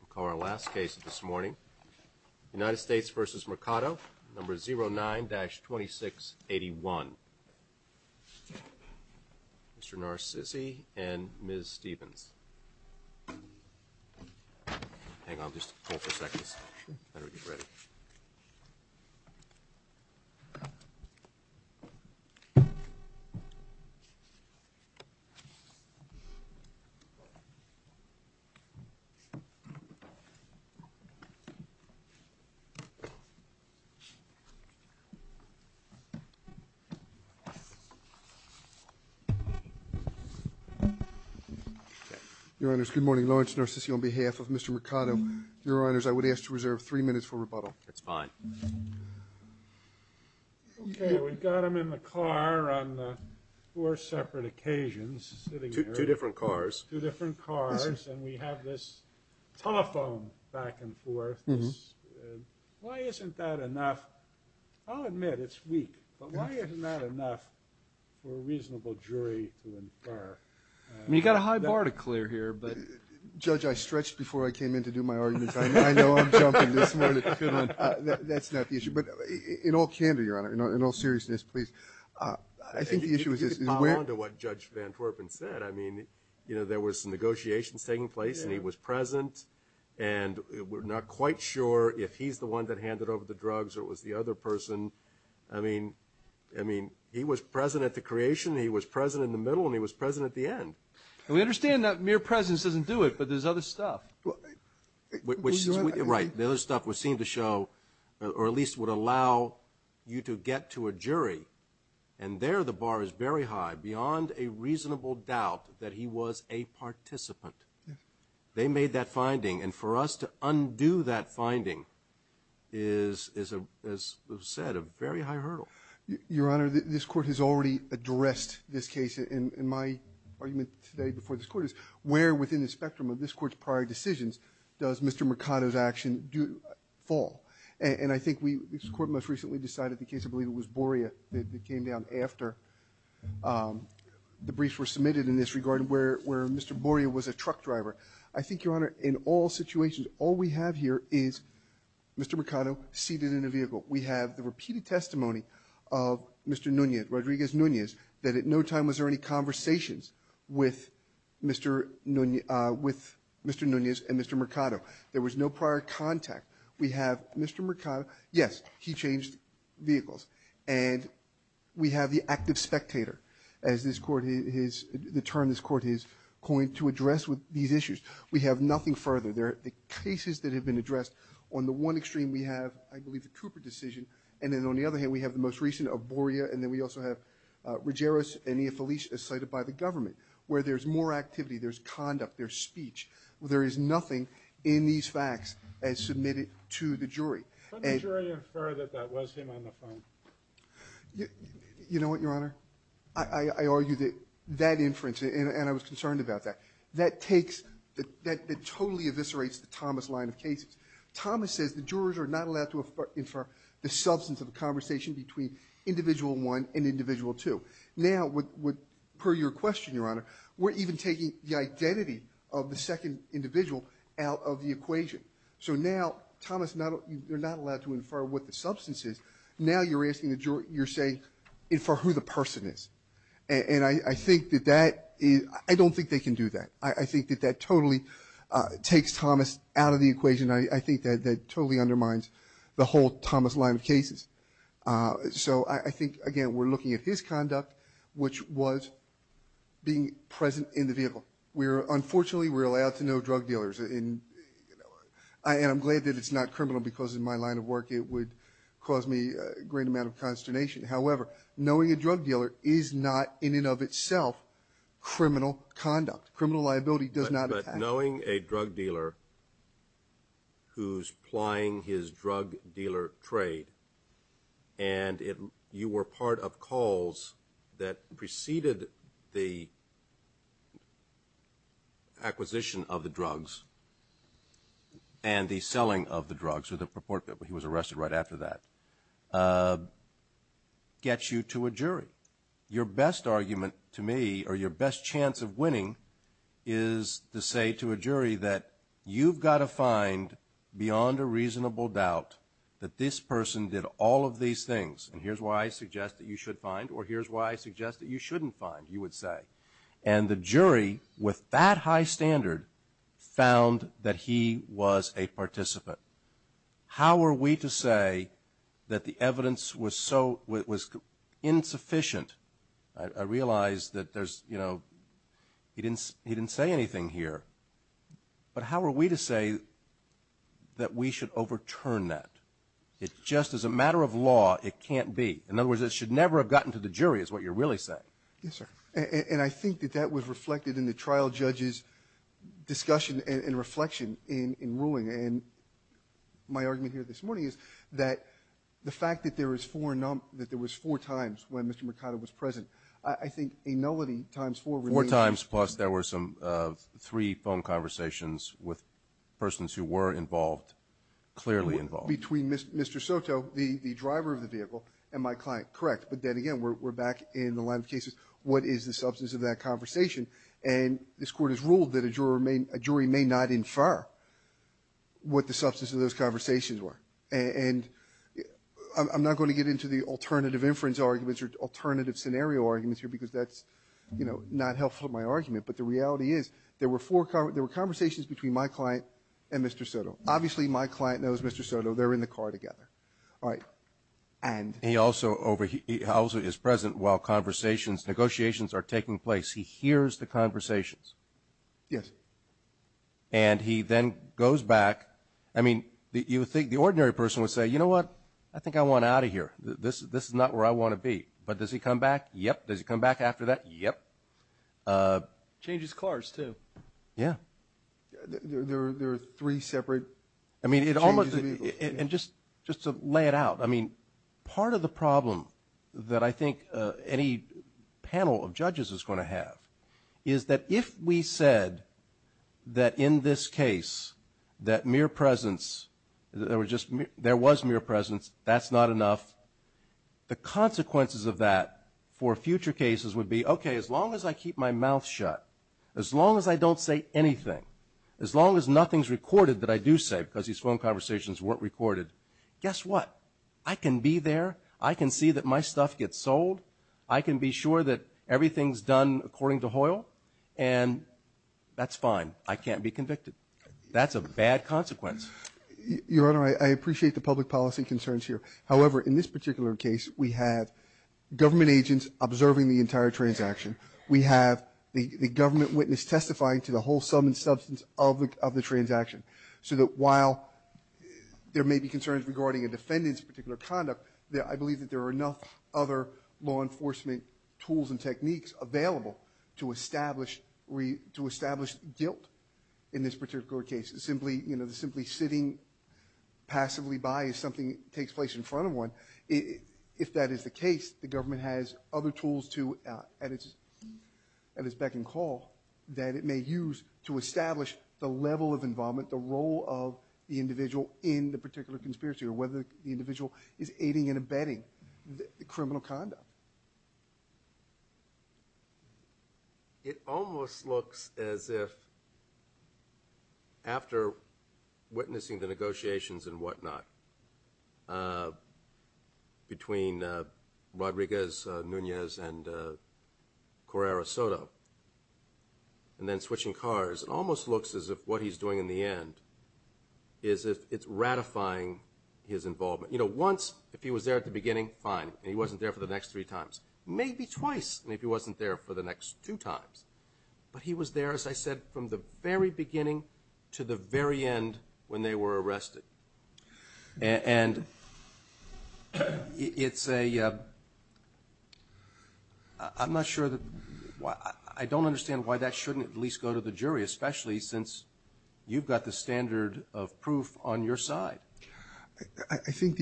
We'll call our last case this morning. United States v. Mercado, number 09-2681. Mr. Narcisi and Ms. Stevens. Hang on just a couple of seconds. Better get ready. Your Honors, good morning. Lawrence Narcisi on behalf of Mr. Mercado. Your Honors, I would ask to reserve three minutes for rebuttal. That's fine. Okay, we've got him in the car on four separate occasions. Two different cars. Two different cars, and we have this telephone back and forth. Why isn't that enough? I'll admit it's weak, but why isn't that enough for a reasonable jury to infer? You've got a high bar to clear here. Judge, I stretched before I came in to do my argument. I know I'm jumping this morning. That's not the issue. But in all candor, Your Honor, in all seriousness, please, I think the issue is this. I mean, there was negotiations taking place, and he was present. And we're not quite sure if he's the one that handed over the drugs or it was the other person. I mean, he was present at the creation. He was present in the middle, and he was present at the end. We understand that mere presence doesn't do it, but there's other stuff. Right, the other stuff would seem to show, or at least would allow you to get to a jury. And there the bar is very high beyond a reasonable doubt that he was a participant. They made that finding, and for us to undo that finding is, as was said, a very high hurdle. Your Honor, this Court has already addressed this case. And my argument today before this Court is where within the spectrum of this Court's prior decisions does Mr. Mercado's action fall? And I think we, this Court most recently decided the case, I believe it was Boria, that came down after the briefs were submitted in this regard where Mr. Boria was a truck driver. I think, Your Honor, in all situations, all we have here is Mr. Mercado seated in a vehicle. We have the repeated testimony of Mr. Nunez, Rodriguez Nunez, that at no time was there any conversations with Mr. Nunez and Mr. Mercado. There was no prior contact. We have Mr. Mercado. Yes, he changed vehicles. And we have the active spectator, as this Court has, the term this Court has coined to address these issues. We have nothing further. There are cases that have been addressed. On the one extreme, we have, I believe, the Cooper decision, and then on the other hand, we have the most recent of Boria, and then we also have Ruggieros and Iafelis as cited by the government where there's more activity, there's conduct, there's speech. There is nothing in these facts as submitted to the jury. Could the jury infer that that was him on the phone? You know what, Your Honor? I argue that that inference, and I was concerned about that, that takes, that totally eviscerates the Thomas line of cases. Thomas says the jurors are not allowed to infer the substance of a conversation between individual one and individual two. Now, per your question, Your Honor, we're even taking the identity of the second individual out of the equation. So now Thomas, you're not allowed to infer what the substance is. Now you're asking the juror, you're saying, infer who the person is. And I think that that is, I don't think they can do that. I think that that totally takes Thomas out of the equation. So I think, again, we're looking at his conduct, which was being present in the vehicle. Unfortunately, we're allowed to know drug dealers, and I'm glad that it's not criminal because in my line of work it would cause me a great amount of consternation. However, knowing a drug dealer is not in and of itself criminal conduct. Criminal liability does not attach. Knowing a drug dealer who's plying his drug dealer trade and you were part of calls that preceded the acquisition of the drugs and the selling of the drugs, he was arrested right after that, gets you to a jury. Your best argument to me, or your best chance of winning, is to say to a jury that you've got to find beyond a reasonable doubt that this person did all of these things. And here's why I suggest that you should find, or here's why I suggest that you shouldn't find, you would say. And the jury, with that high standard, found that he was a participant. How are we to say that the evidence was insufficient? I realize that he didn't say anything here, but how are we to say that we should overturn that? Just as a matter of law, it can't be. In other words, it should never have gotten to the jury is what you're really saying. Yes, sir. And I think that that was reflected in the trial judge's discussion and reflection in ruling. And my argument here this morning is that the fact that there was four times when Mr. Mercado was present, I think a nullity times four remains. Four times plus there were three phone conversations with persons who were involved, clearly involved. Between Mr. Soto, the driver of the vehicle, and my client. Correct. But then again, we're back in the line of cases. What is the substance of that conversation? And this Court has ruled that a jury may not infer what the substance of those conversations were. And I'm not going to get into the alternative inference arguments or alternative scenario arguments here, because that's, you know, not helpful in my argument. But the reality is there were conversations between my client and Mr. Soto. Obviously, my client knows Mr. Soto. They're in the car together. All right. And he also is present while conversations, negotiations are taking place. He hears the conversations. Yes. And he then goes back. I mean, you would think the ordinary person would say, you know what, I think I want out of here. This is not where I want to be. But does he come back? Yep. Does he come back after that? Changes cars, too. Yeah. There are three separate changes of vehicles. And just to lay it out, I mean, part of the problem that I think any panel of judges is going to have is that if we said that in this case that mere presence, there was mere presence, that's not enough, the consequences of that for future cases would be, okay, as long as I keep my mouth shut, as long as I don't say anything, as long as nothing's recorded that I do say, because these phone conversations weren't recorded, guess what? I can be there. I can see that my stuff gets sold. I can be sure that everything's done according to Hoyle. And that's fine. I can't be convicted. That's a bad consequence. Your Honor, I appreciate the public policy concerns here. However, in this particular case, we have government agents observing the entire transaction. We have the government witness testifying to the whole sum and substance of the transaction so that while there may be concerns regarding a defendant's particular conduct, I believe that there are enough other law enforcement tools and techniques available to establish guilt in this particular case. Simply, you know, simply sitting passively by as something takes place in front of one, if that is the case, the government has other tools to, at its beck and call, that it may use to establish the level of involvement, the role of the individual in the particular conspiracy or whether the individual is aiding and abetting the criminal conduct. It almost looks as if after witnessing the negotiations and whatnot between Rodriguez, Nunez, and Correra Soto, and then switching cars, it almost looks as if what he's doing in the end is it's ratifying his involvement. You know, once, if he was there at the beginning, fine, and he wasn't there for the next three times. Maybe twice, maybe he wasn't there for the next two times. But he was there, as I said, from the very beginning to the very end when they were arrested. And it's a, I'm not sure, I don't understand why that shouldn't at least go to the jury, especially since you've got the standard of proof on your side. I think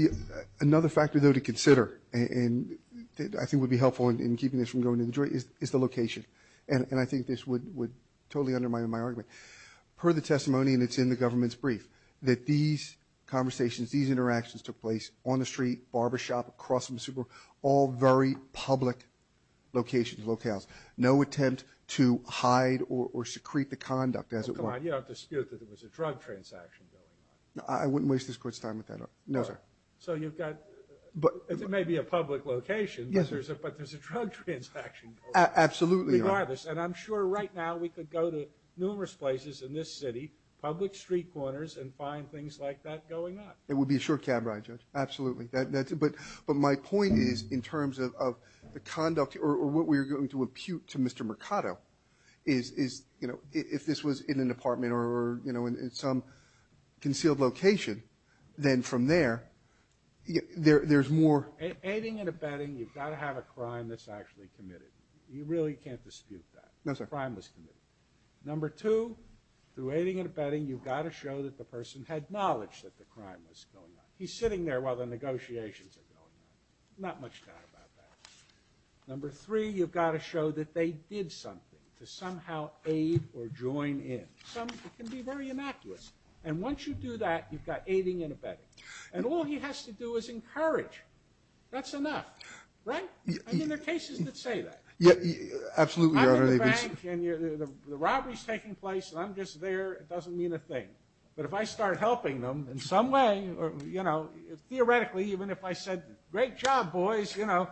another factor, though, to consider, and I think would be helpful in keeping this from going to the jury, is the location. And I think this would totally undermine my argument. Per the testimony, and it's in the government's brief, that these conversations, these interactions took place on the street, barbershop, across from the Super Bowl, all very public locations, locales. No attempt to hide or secrete the conduct as it were. Oh, come on. You don't have to dispute that there was a drug transaction going on. I wouldn't waste this Court's time with that. No, sir. So you've got, it may be a public location, but there's a drug transaction going on. Absolutely. Regardless. And I'm sure right now we could go to numerous places in this city, public street corners, and find things like that going on. It would be a short cab ride, Judge. Absolutely. But my point is, in terms of the conduct, or what we're going to impute to Mr. Mercado, is, you know, if this was in an apartment or, you know, in some concealed location, then from there, there's more. Aiding and abetting, you've got to have a crime that's actually committed. You really can't dispute that. No, sir. Crime was committed. Number two, through aiding and abetting, you've got to show that the person had knowledge that the crime was going on. He's sitting there while the negotiations are going on. Not much doubt about that. Number three, you've got to show that they did something to somehow aid or join in. Some can be very innocuous. And once you do that, you've got aiding and abetting. And all he has to do is encourage. That's enough. Right? I mean, there are cases that say that. Absolutely, Your Honor. I'm in the bank, and the robbery's taking place, and I'm just there. It doesn't mean a thing. But if I start helping them in some way, you know, theoretically, even if I said, great job, boys, you know,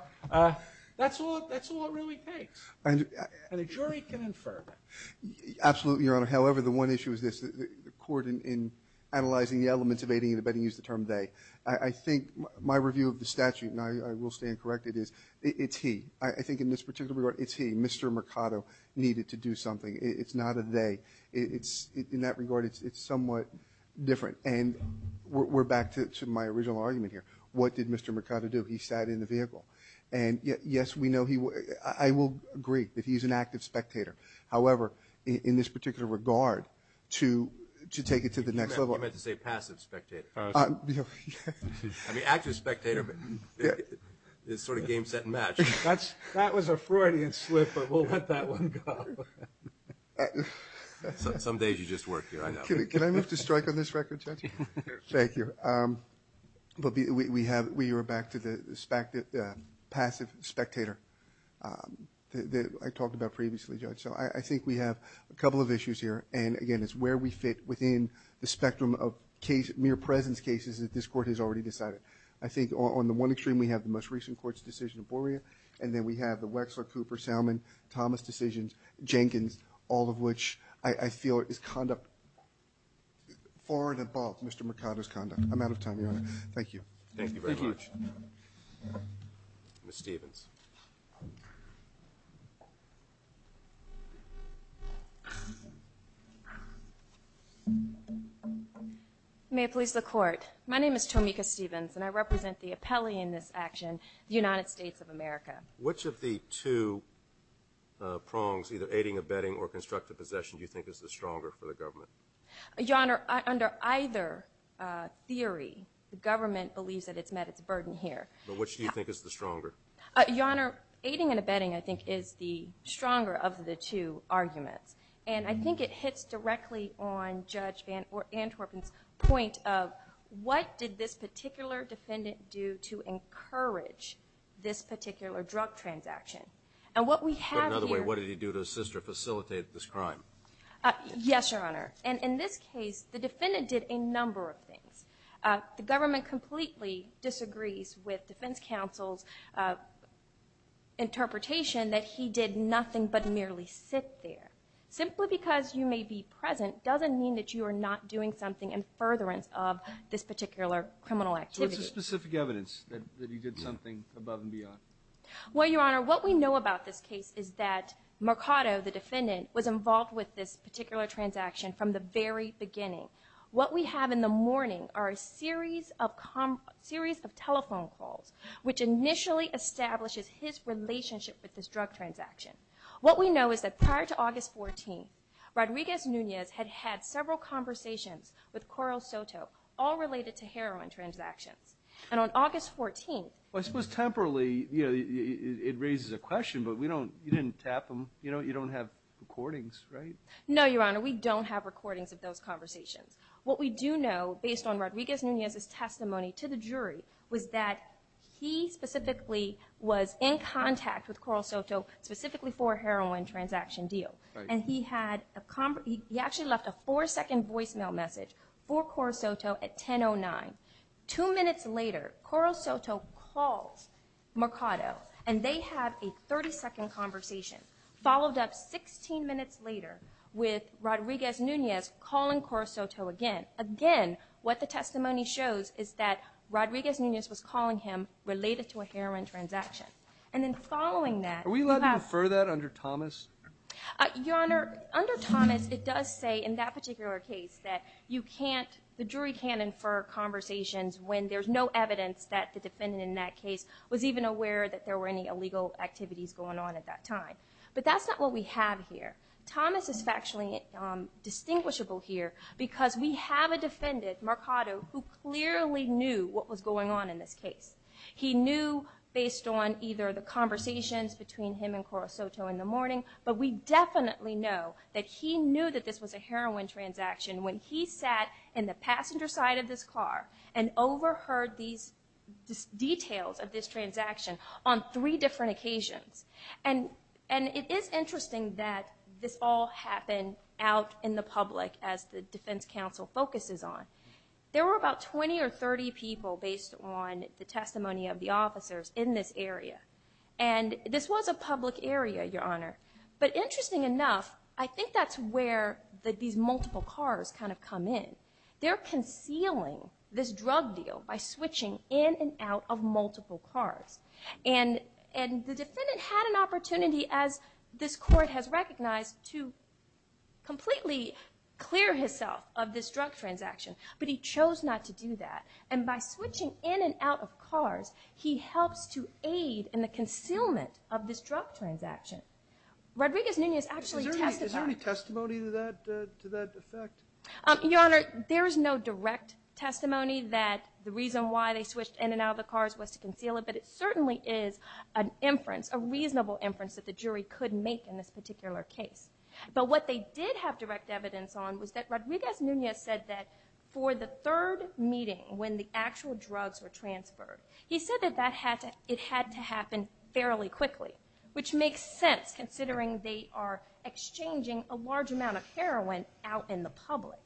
that's all it really takes. And a jury can infer. Absolutely, Your Honor. However, the one issue is this, the court in analyzing the elements of aiding and abetting used the term they. I think my review of the statute, and I will stand corrected, is it's he. I think in this particular regard, it's he. Mr. Mercado needed to do something. It's not a they. In that regard, it's somewhat different. And we're back to my original argument here. What did Mr. Mercado do? He sat in the vehicle. And, yes, we know he was. I will agree that he's an active spectator. However, in this particular regard, to take it to the next level. I thought you meant to say passive spectator. I mean, active spectator, but it's sort of game, set, and match. That was a Freudian slip, but we'll let that one go. Some days you just work here, I know. Can I move to strike on this record, Judge? Thank you. We are back to the passive spectator that I talked about previously, Judge. So I think we have a couple of issues here. And, again, it's where we fit within the spectrum of mere presence cases that this Court has already decided. I think on the one extreme we have the most recent Court's decision, and then we have the Wexler, Cooper, Salmon, Thomas decisions, Jenkins, all of which I feel is conduct far and above Mr. Mercado's conduct. I'm out of time, Your Honor. Thank you. Thank you very much. Ms. Stevens. May it please the Court. My name is Tomika Stevens, and I represent the appellee in this action, the United States of America. Which of the two prongs, either aiding, abetting, or constructive possession, do you think is the stronger for the government? Your Honor, under either theory, the government believes that it's met its burden here. But which do you think is the stronger? Your Honor, aiding and abetting, I think, is the stronger of the two arguments. And I think it hits directly on Judge Van Antwerpen's point of what did this particular defendant do to encourage this particular drug transaction? But another way, what did he do to assist or facilitate this crime? Yes, Your Honor. And in this case, the defendant did a number of things. The government completely disagrees with defense counsel's interpretation that he did nothing but merely sit there. Simply because you may be present doesn't mean that you are not doing something in furtherance of this particular criminal activity. So what's the specific evidence that he did something above and beyond? Well, Your Honor, what we know about this case is that Mercado, the defendant, was involved with this particular transaction from the very beginning. What we have in the morning are a series of telephone calls, which initially establishes his relationship with this drug transaction. What we know is that prior to August 14th, Rodriguez-Nunez had had several conversations with Coral Soto, all related to heroin transactions. And on August 14th... Well, I suppose temporarily, you know, it raises a question, but you didn't tap him. You don't have recordings, right? No, Your Honor, we don't have recordings of those conversations. What we do know, based on Rodriguez-Nunez's testimony to the jury, was that he specifically was in contact with Coral Soto specifically for a heroin transaction deal. And he actually left a four-second voicemail message for Coral Soto at 10.09. Two minutes later, Coral Soto calls Mercado, and they have a 30-second conversation. Followed up 16 minutes later with Rodriguez-Nunez calling Coral Soto again. What the testimony shows is that Rodriguez-Nunez was calling him related to a heroin transaction. And then following that... Are we allowed to infer that under Thomas? Your Honor, under Thomas, it does say in that particular case that the jury can't infer conversations when there's no evidence that the defendant in that case was even aware that there were any illegal activities going on at that time. But that's not what we have here. Thomas is factually distinguishable here because we have a defendant, Mercado, who clearly knew what was going on in this case. He knew based on either the conversations between him and Coral Soto in the morning, but we definitely know that he knew that this was a heroin transaction when he sat in the passenger side of this car and overheard these details of this transaction on three different occasions. And it is interesting that this all happened out in the public as the defense counsel focuses on. There were about 20 or 30 people based on the testimony of the officers in this area. And this was a public area, Your Honor. But interesting enough, I think that's where these multiple cars kind of come in. They're concealing this drug deal by switching in and out of multiple cars. And the defendant had an opportunity, as this court has recognized, to completely clear himself of this drug transaction, but he chose not to do that. And by switching in and out of cars, he helps to aid in the concealment of this drug transaction. Rodriguez-Nunez actually testified. Is there any testimony to that effect? Your Honor, there is no direct testimony that the reason why they switched in and out of the cars was to conceal it, but it certainly is an inference, that the jury could make in this particular case. But what they did have direct evidence on was that Rodriguez-Nunez said that for the third meeting when the actual drugs were transferred, he said that it had to happen fairly quickly, which makes sense considering they are exchanging a large amount of heroin out in the public.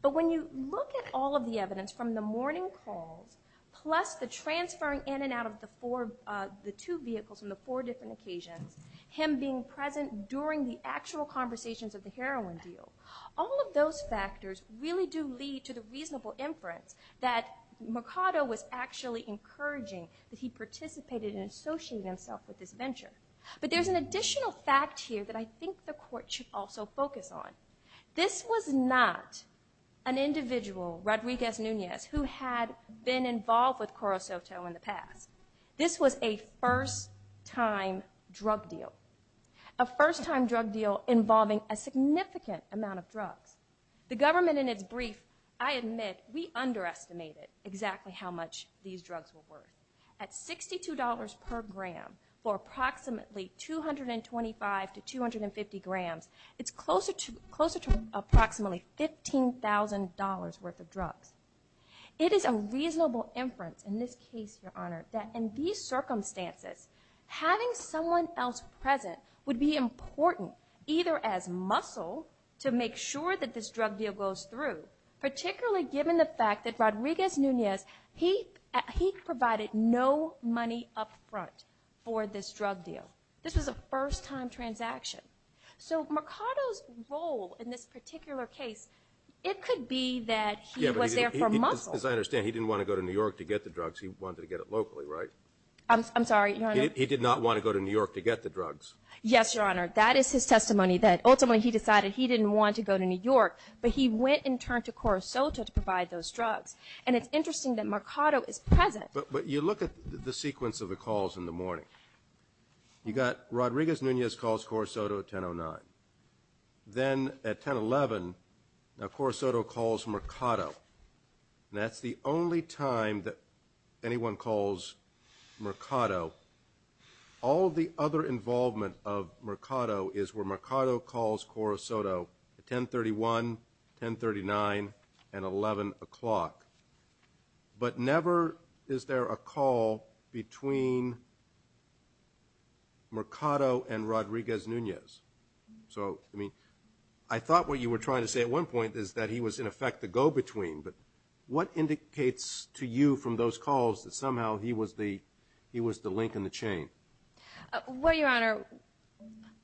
But when you look at all of the evidence from the morning calls plus the transferring in and out of the two vehicles on the four different occasions, him being present during the actual conversations of the heroin deal, all of those factors really do lead to the reasonable inference that Mercado was actually encouraging that he participated in associating himself with this venture. But there's an additional fact here that I think the court should also focus on. This was not an individual, Rodriguez-Nunez, who had been involved with CoroSoto in the past. This was a first-time drug deal. A first-time drug deal involving a significant amount of drugs. The government in its brief, I admit, we underestimated exactly how much these drugs were worth. At $62 per gram for approximately 225 to 250 grams, it's closer to approximately $15,000 worth of drugs. It is a reasonable inference in this case, Your Honor, that in these circumstances, having someone else present would be important either as muscle to make sure that this drug deal goes through, particularly given the fact that Rodriguez-Nunez, he provided no money up front for this drug deal. This was a first-time transaction. So Mercado's role in this particular case, it could be that he was there for muscle. As I understand, he didn't want to go to New York to get the drugs. He wanted to get it locally, right? I'm sorry, Your Honor. He did not want to go to New York to get the drugs. Yes, Your Honor. That is his testimony that ultimately he decided he didn't want to go to New York, but he went and turned to CoroSoto to provide those drugs. And it's interesting that Mercado is present. But you look at the sequence of the calls in the morning. You've got Rodriguez-Nunez calls CoroSoto at 10.09. Then at 10.11, now CoroSoto calls Mercado. And that's the only time that anyone calls Mercado. All the other involvement of Mercado is where Mercado calls CoroSoto at 10.31, 10.39, and 11 o'clock. But never is there a call between Mercado and Rodriguez-Nunez. So, I mean, I thought what you were trying to say at one point is that he was, in effect, the go-between. But what indicates to you from those calls that somehow he was the link in the chain? Well, Your Honor,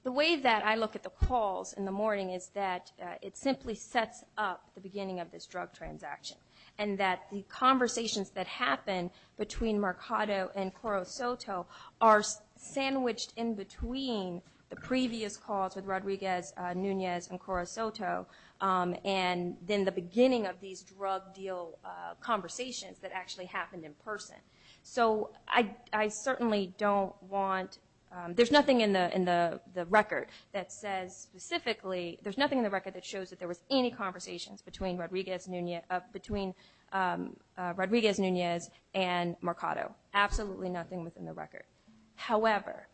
the way that I look at the calls in the morning is that it simply sets up the beginning of this drug transaction. And that the conversations that happen between Mercado and CoroSoto are sandwiched in between the previous calls with Rodriguez-Nunez and CoroSoto and then the beginning of these drug deal conversations that actually happened in person. So I certainly don't want – there's nothing in the record that says specifically – between Rodriguez-Nunez and Mercado. Absolutely nothing within the record. However,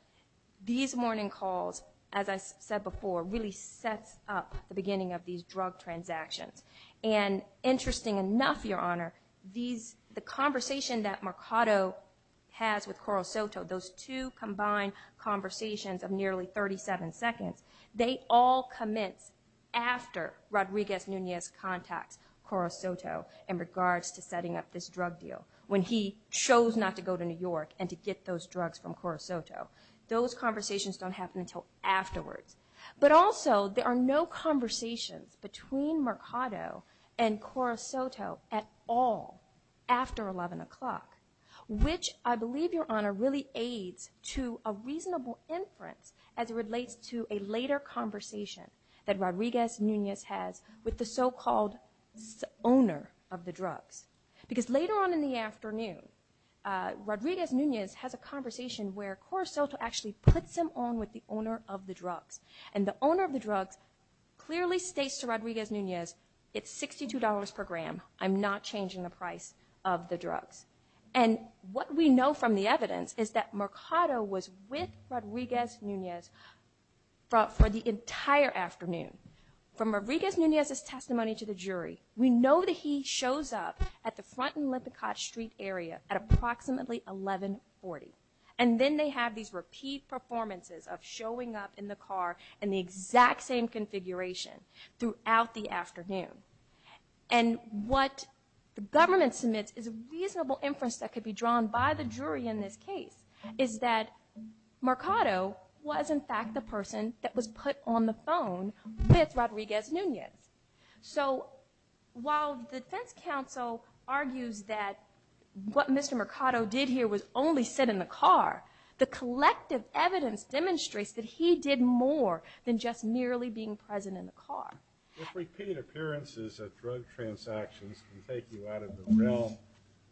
these morning calls, as I said before, really sets up the beginning of these drug transactions. And interesting enough, Your Honor, the conversation that Mercado has with CoroSoto, those two combined conversations of nearly 37 seconds, they all commence after Rodriguez-Nunez contacts CoroSoto in regards to setting up this drug deal when he chose not to go to New York and to get those drugs from CoroSoto. Those conversations don't happen until afterwards. But also, there are no conversations between Mercado and CoroSoto at all after 11 o'clock, which I believe, Your Honor, really aids to a reasonable inference as it relates to a later conversation that Rodriguez-Nunez has with the so-called owner of the drugs. Because later on in the afternoon, Rodriguez-Nunez has a conversation where CoroSoto actually puts him on with the owner of the drugs. And the owner of the drugs clearly states to Rodriguez-Nunez, it's $62 per gram, I'm not changing the price of the drugs. And what we know from the evidence is that Mercado was with Rodriguez-Nunez for the entire afternoon. From Rodriguez-Nunez's testimony to the jury, we know that he shows up at the front in Lippincott Street area at approximately 11.40. And then they have these repeat performances of showing up in the car in the exact same configuration throughout the afternoon. And what the government submits is a reasonable inference that could be drawn by the jury in this case, is that Mercado was in fact the person that was put on the phone with Rodriguez-Nunez. So while the defense counsel argues that what Mr. Mercado did here was only sit in the car, the collective evidence demonstrates that he did more than just merely being present in the car. If repeat appearances at drug transactions can take you out of the realm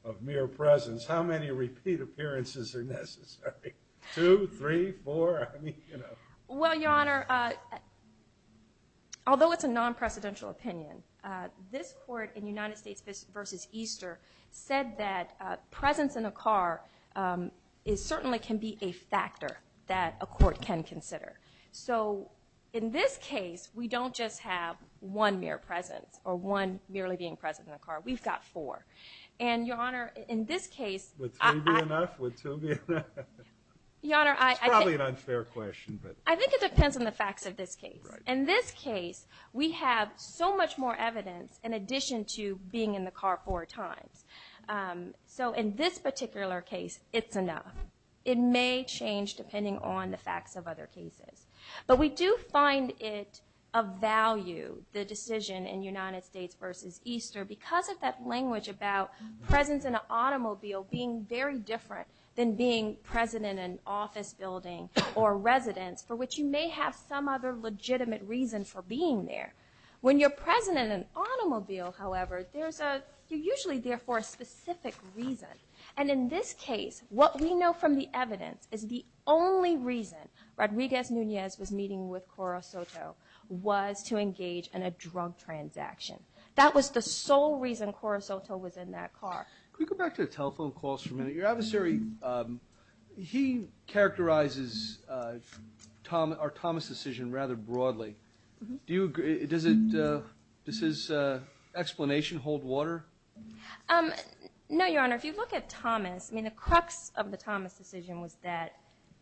of mere presence, how many repeat appearances are necessary? Two? Three? Four? I mean, you know. Well, Your Honor, although it's a non-precedential opinion, this court in United States v. Easter said that presence in a car certainly can be a factor that a court can consider. So in this case, we don't just have one mere presence or one merely being present in a car. We've got four. And, Your Honor, in this case – Would three be enough? Would two be enough? Your Honor, I think – It's probably an unfair question, but – I think it depends on the facts of this case. In this case, we have so much more evidence in addition to being in the car four times. So in this particular case, it's enough. It may change depending on the facts of other cases. But we do find it of value, the decision in United States v. Easter, because of that language about presence in an automobile being very different than being present in an office building or residence for which you may have some other legitimate reason for being there. When you're present in an automobile, however, you're usually there for a specific reason. And in this case, what we know from the evidence is the only reason Rodriguez-Nunez was meeting with Coro Soto was to engage in a drug transaction. That was the sole reason Coro Soto was in that car. Your adversary, he characterizes our Thomas decision rather broadly. Does his explanation hold water? No, Your Honor. If you look at Thomas, I mean, the crux of the Thomas decision was that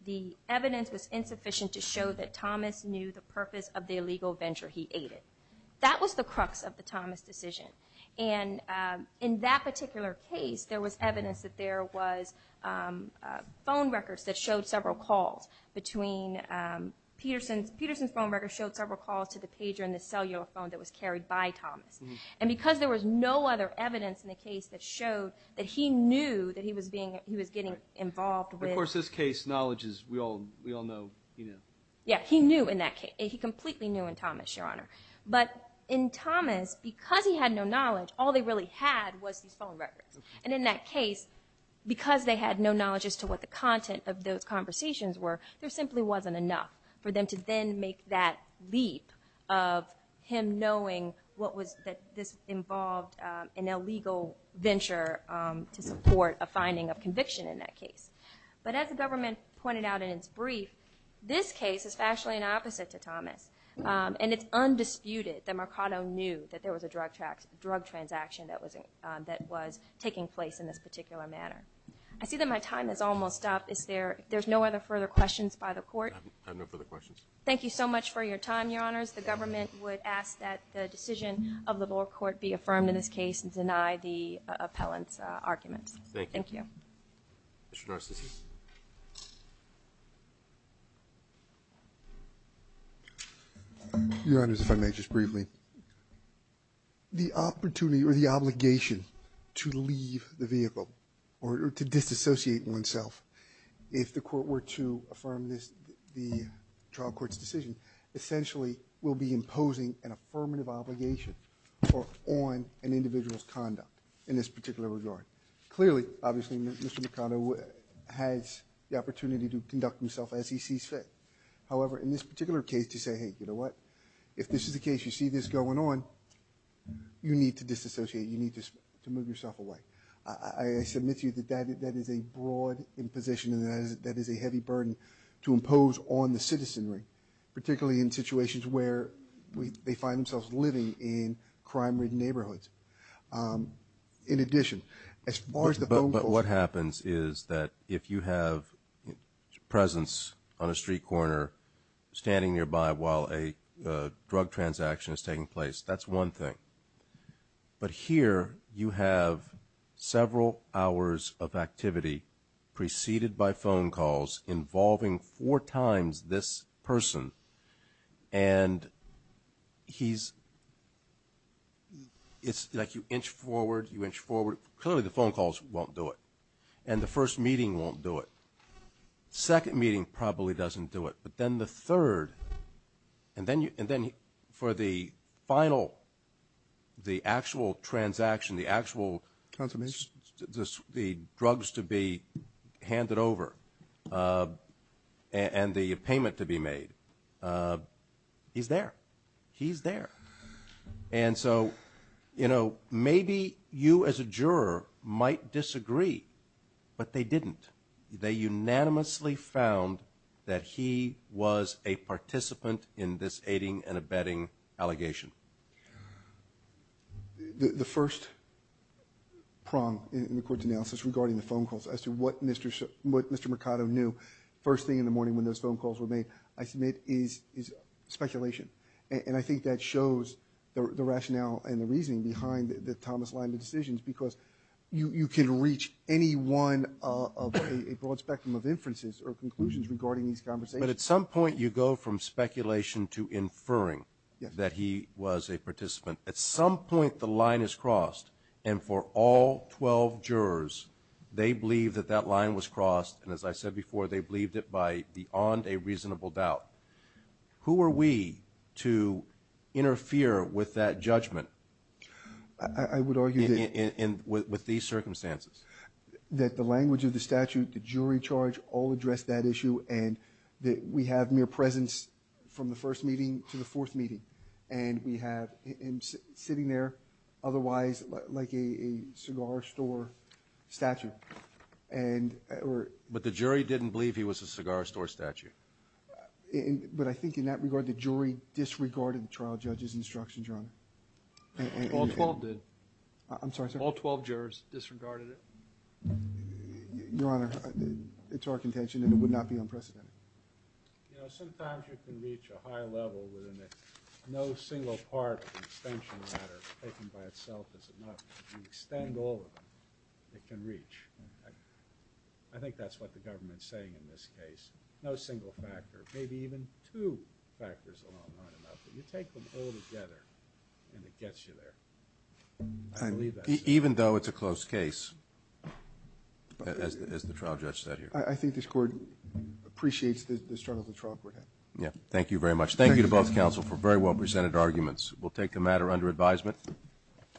the evidence was insufficient to show that Thomas knew the purpose of the illegal venture he aided. That was the crux of the Thomas decision. And in that particular case, there was evidence that there was phone records that showed several calls between Peterson's phone records showed several calls to the pager in the cellular phone that was carried by Thomas. And because there was no other evidence in the case that showed that he knew that he was getting involved with Of course, this case knowledge is we all know he knew. Yeah, he knew in that case. He completely knew in Thomas, Your Honor. But in Thomas, because he had no knowledge, all they really had was these phone records. And in that case, because they had no knowledge as to what the content of those conversations were, there simply wasn't enough for them to then make that leap of him knowing what was that this involved an illegal venture to support a finding of conviction in that case. But as the government pointed out in its brief, this case is actually an opposite to Thomas. And it's undisputed that Mercado knew that there was a drug transaction that was taking place in this particular manner. I see that my time is almost up. There's no other further questions by the court? I have no further questions. Thank you so much for your time, Your Honors. The government would ask that the decision of the lower court be affirmed in this case and deny the appellant's arguments. Thank you. Thank you. Mr. Narcissus. Your Honors, if I may just briefly. The opportunity or the obligation to leave the vehicle or to disassociate oneself, if the court were to affirm the trial court's decision, essentially will be imposing an affirmative obligation on an individual's conduct in this particular regard. Clearly, obviously, Mr. Mercado has the opportunity to conduct himself as he sees fit. However, in this particular case, to say, hey, you know what? If this is the case, you see this going on, you need to disassociate. You need to move yourself away. I submit to you that that is a broad imposition and that is a heavy burden to impose on the citizenry, particularly in situations where they find themselves living in crime-ridden neighborhoods. In addition, as far as the phone calls. But what happens is that if you have presence on a street corner standing nearby while a drug transaction is taking place, that's one thing. But here you have several hours of activity preceded by phone calls involving four times this person. And he's, it's like you inch forward, you inch forward. Clearly the phone calls won't do it. And the first meeting won't do it. Second meeting probably doesn't do it. But then the third, and then for the final, the actual transaction, the actual drugs to be handed over and the payment to be made, he's there. He's there. And so, you know, maybe you as a juror might disagree, but they didn't. They unanimously found that he was a participant in this aiding and abetting allegation. The first prong in the court's analysis regarding the phone calls as to what Mr. Mercado knew first thing in the morning when those phone calls were made, I submit is speculation. And I think that shows the rationale and the reasoning behind the Thomas Lyman decisions, because you can reach any one of a broad spectrum of inferences or conclusions regarding these conversations. But at some point you go from speculation to inferring that he was a participant. At some point the line is crossed, and for all 12 jurors, they believe that that line was crossed, and as I said before, they believed it by beyond a reasonable doubt. Who were we to interfere with that judgment with these circumstances? That the language of the statute, the jury charge all addressed that issue, and that we have mere presence from the first meeting to the fourth meeting, and we have him sitting there otherwise like a cigar store statute. But the jury didn't believe he was a cigar store statute. But I think in that regard, the jury disregarded the trial judge's instructions, Your Honor. All 12 did. I'm sorry, sir? All 12 jurors disregarded it. Your Honor, it's our contention that it would not be unprecedented. You know, sometimes you can reach a high level within that no single part of the extension matter taken by itself is enough. If you extend all of it, it can reach. I think that's what the government's saying in this case. No single factor, maybe even two factors alone aren't enough, but you take them all together and it gets you there. I believe that. Even though it's a close case, as the trial judge said here. I think this Court appreciates the struggle the trial court had. Yeah, thank you very much. Thank you to both counsel for very well presented arguments. We'll take the matter under advisement.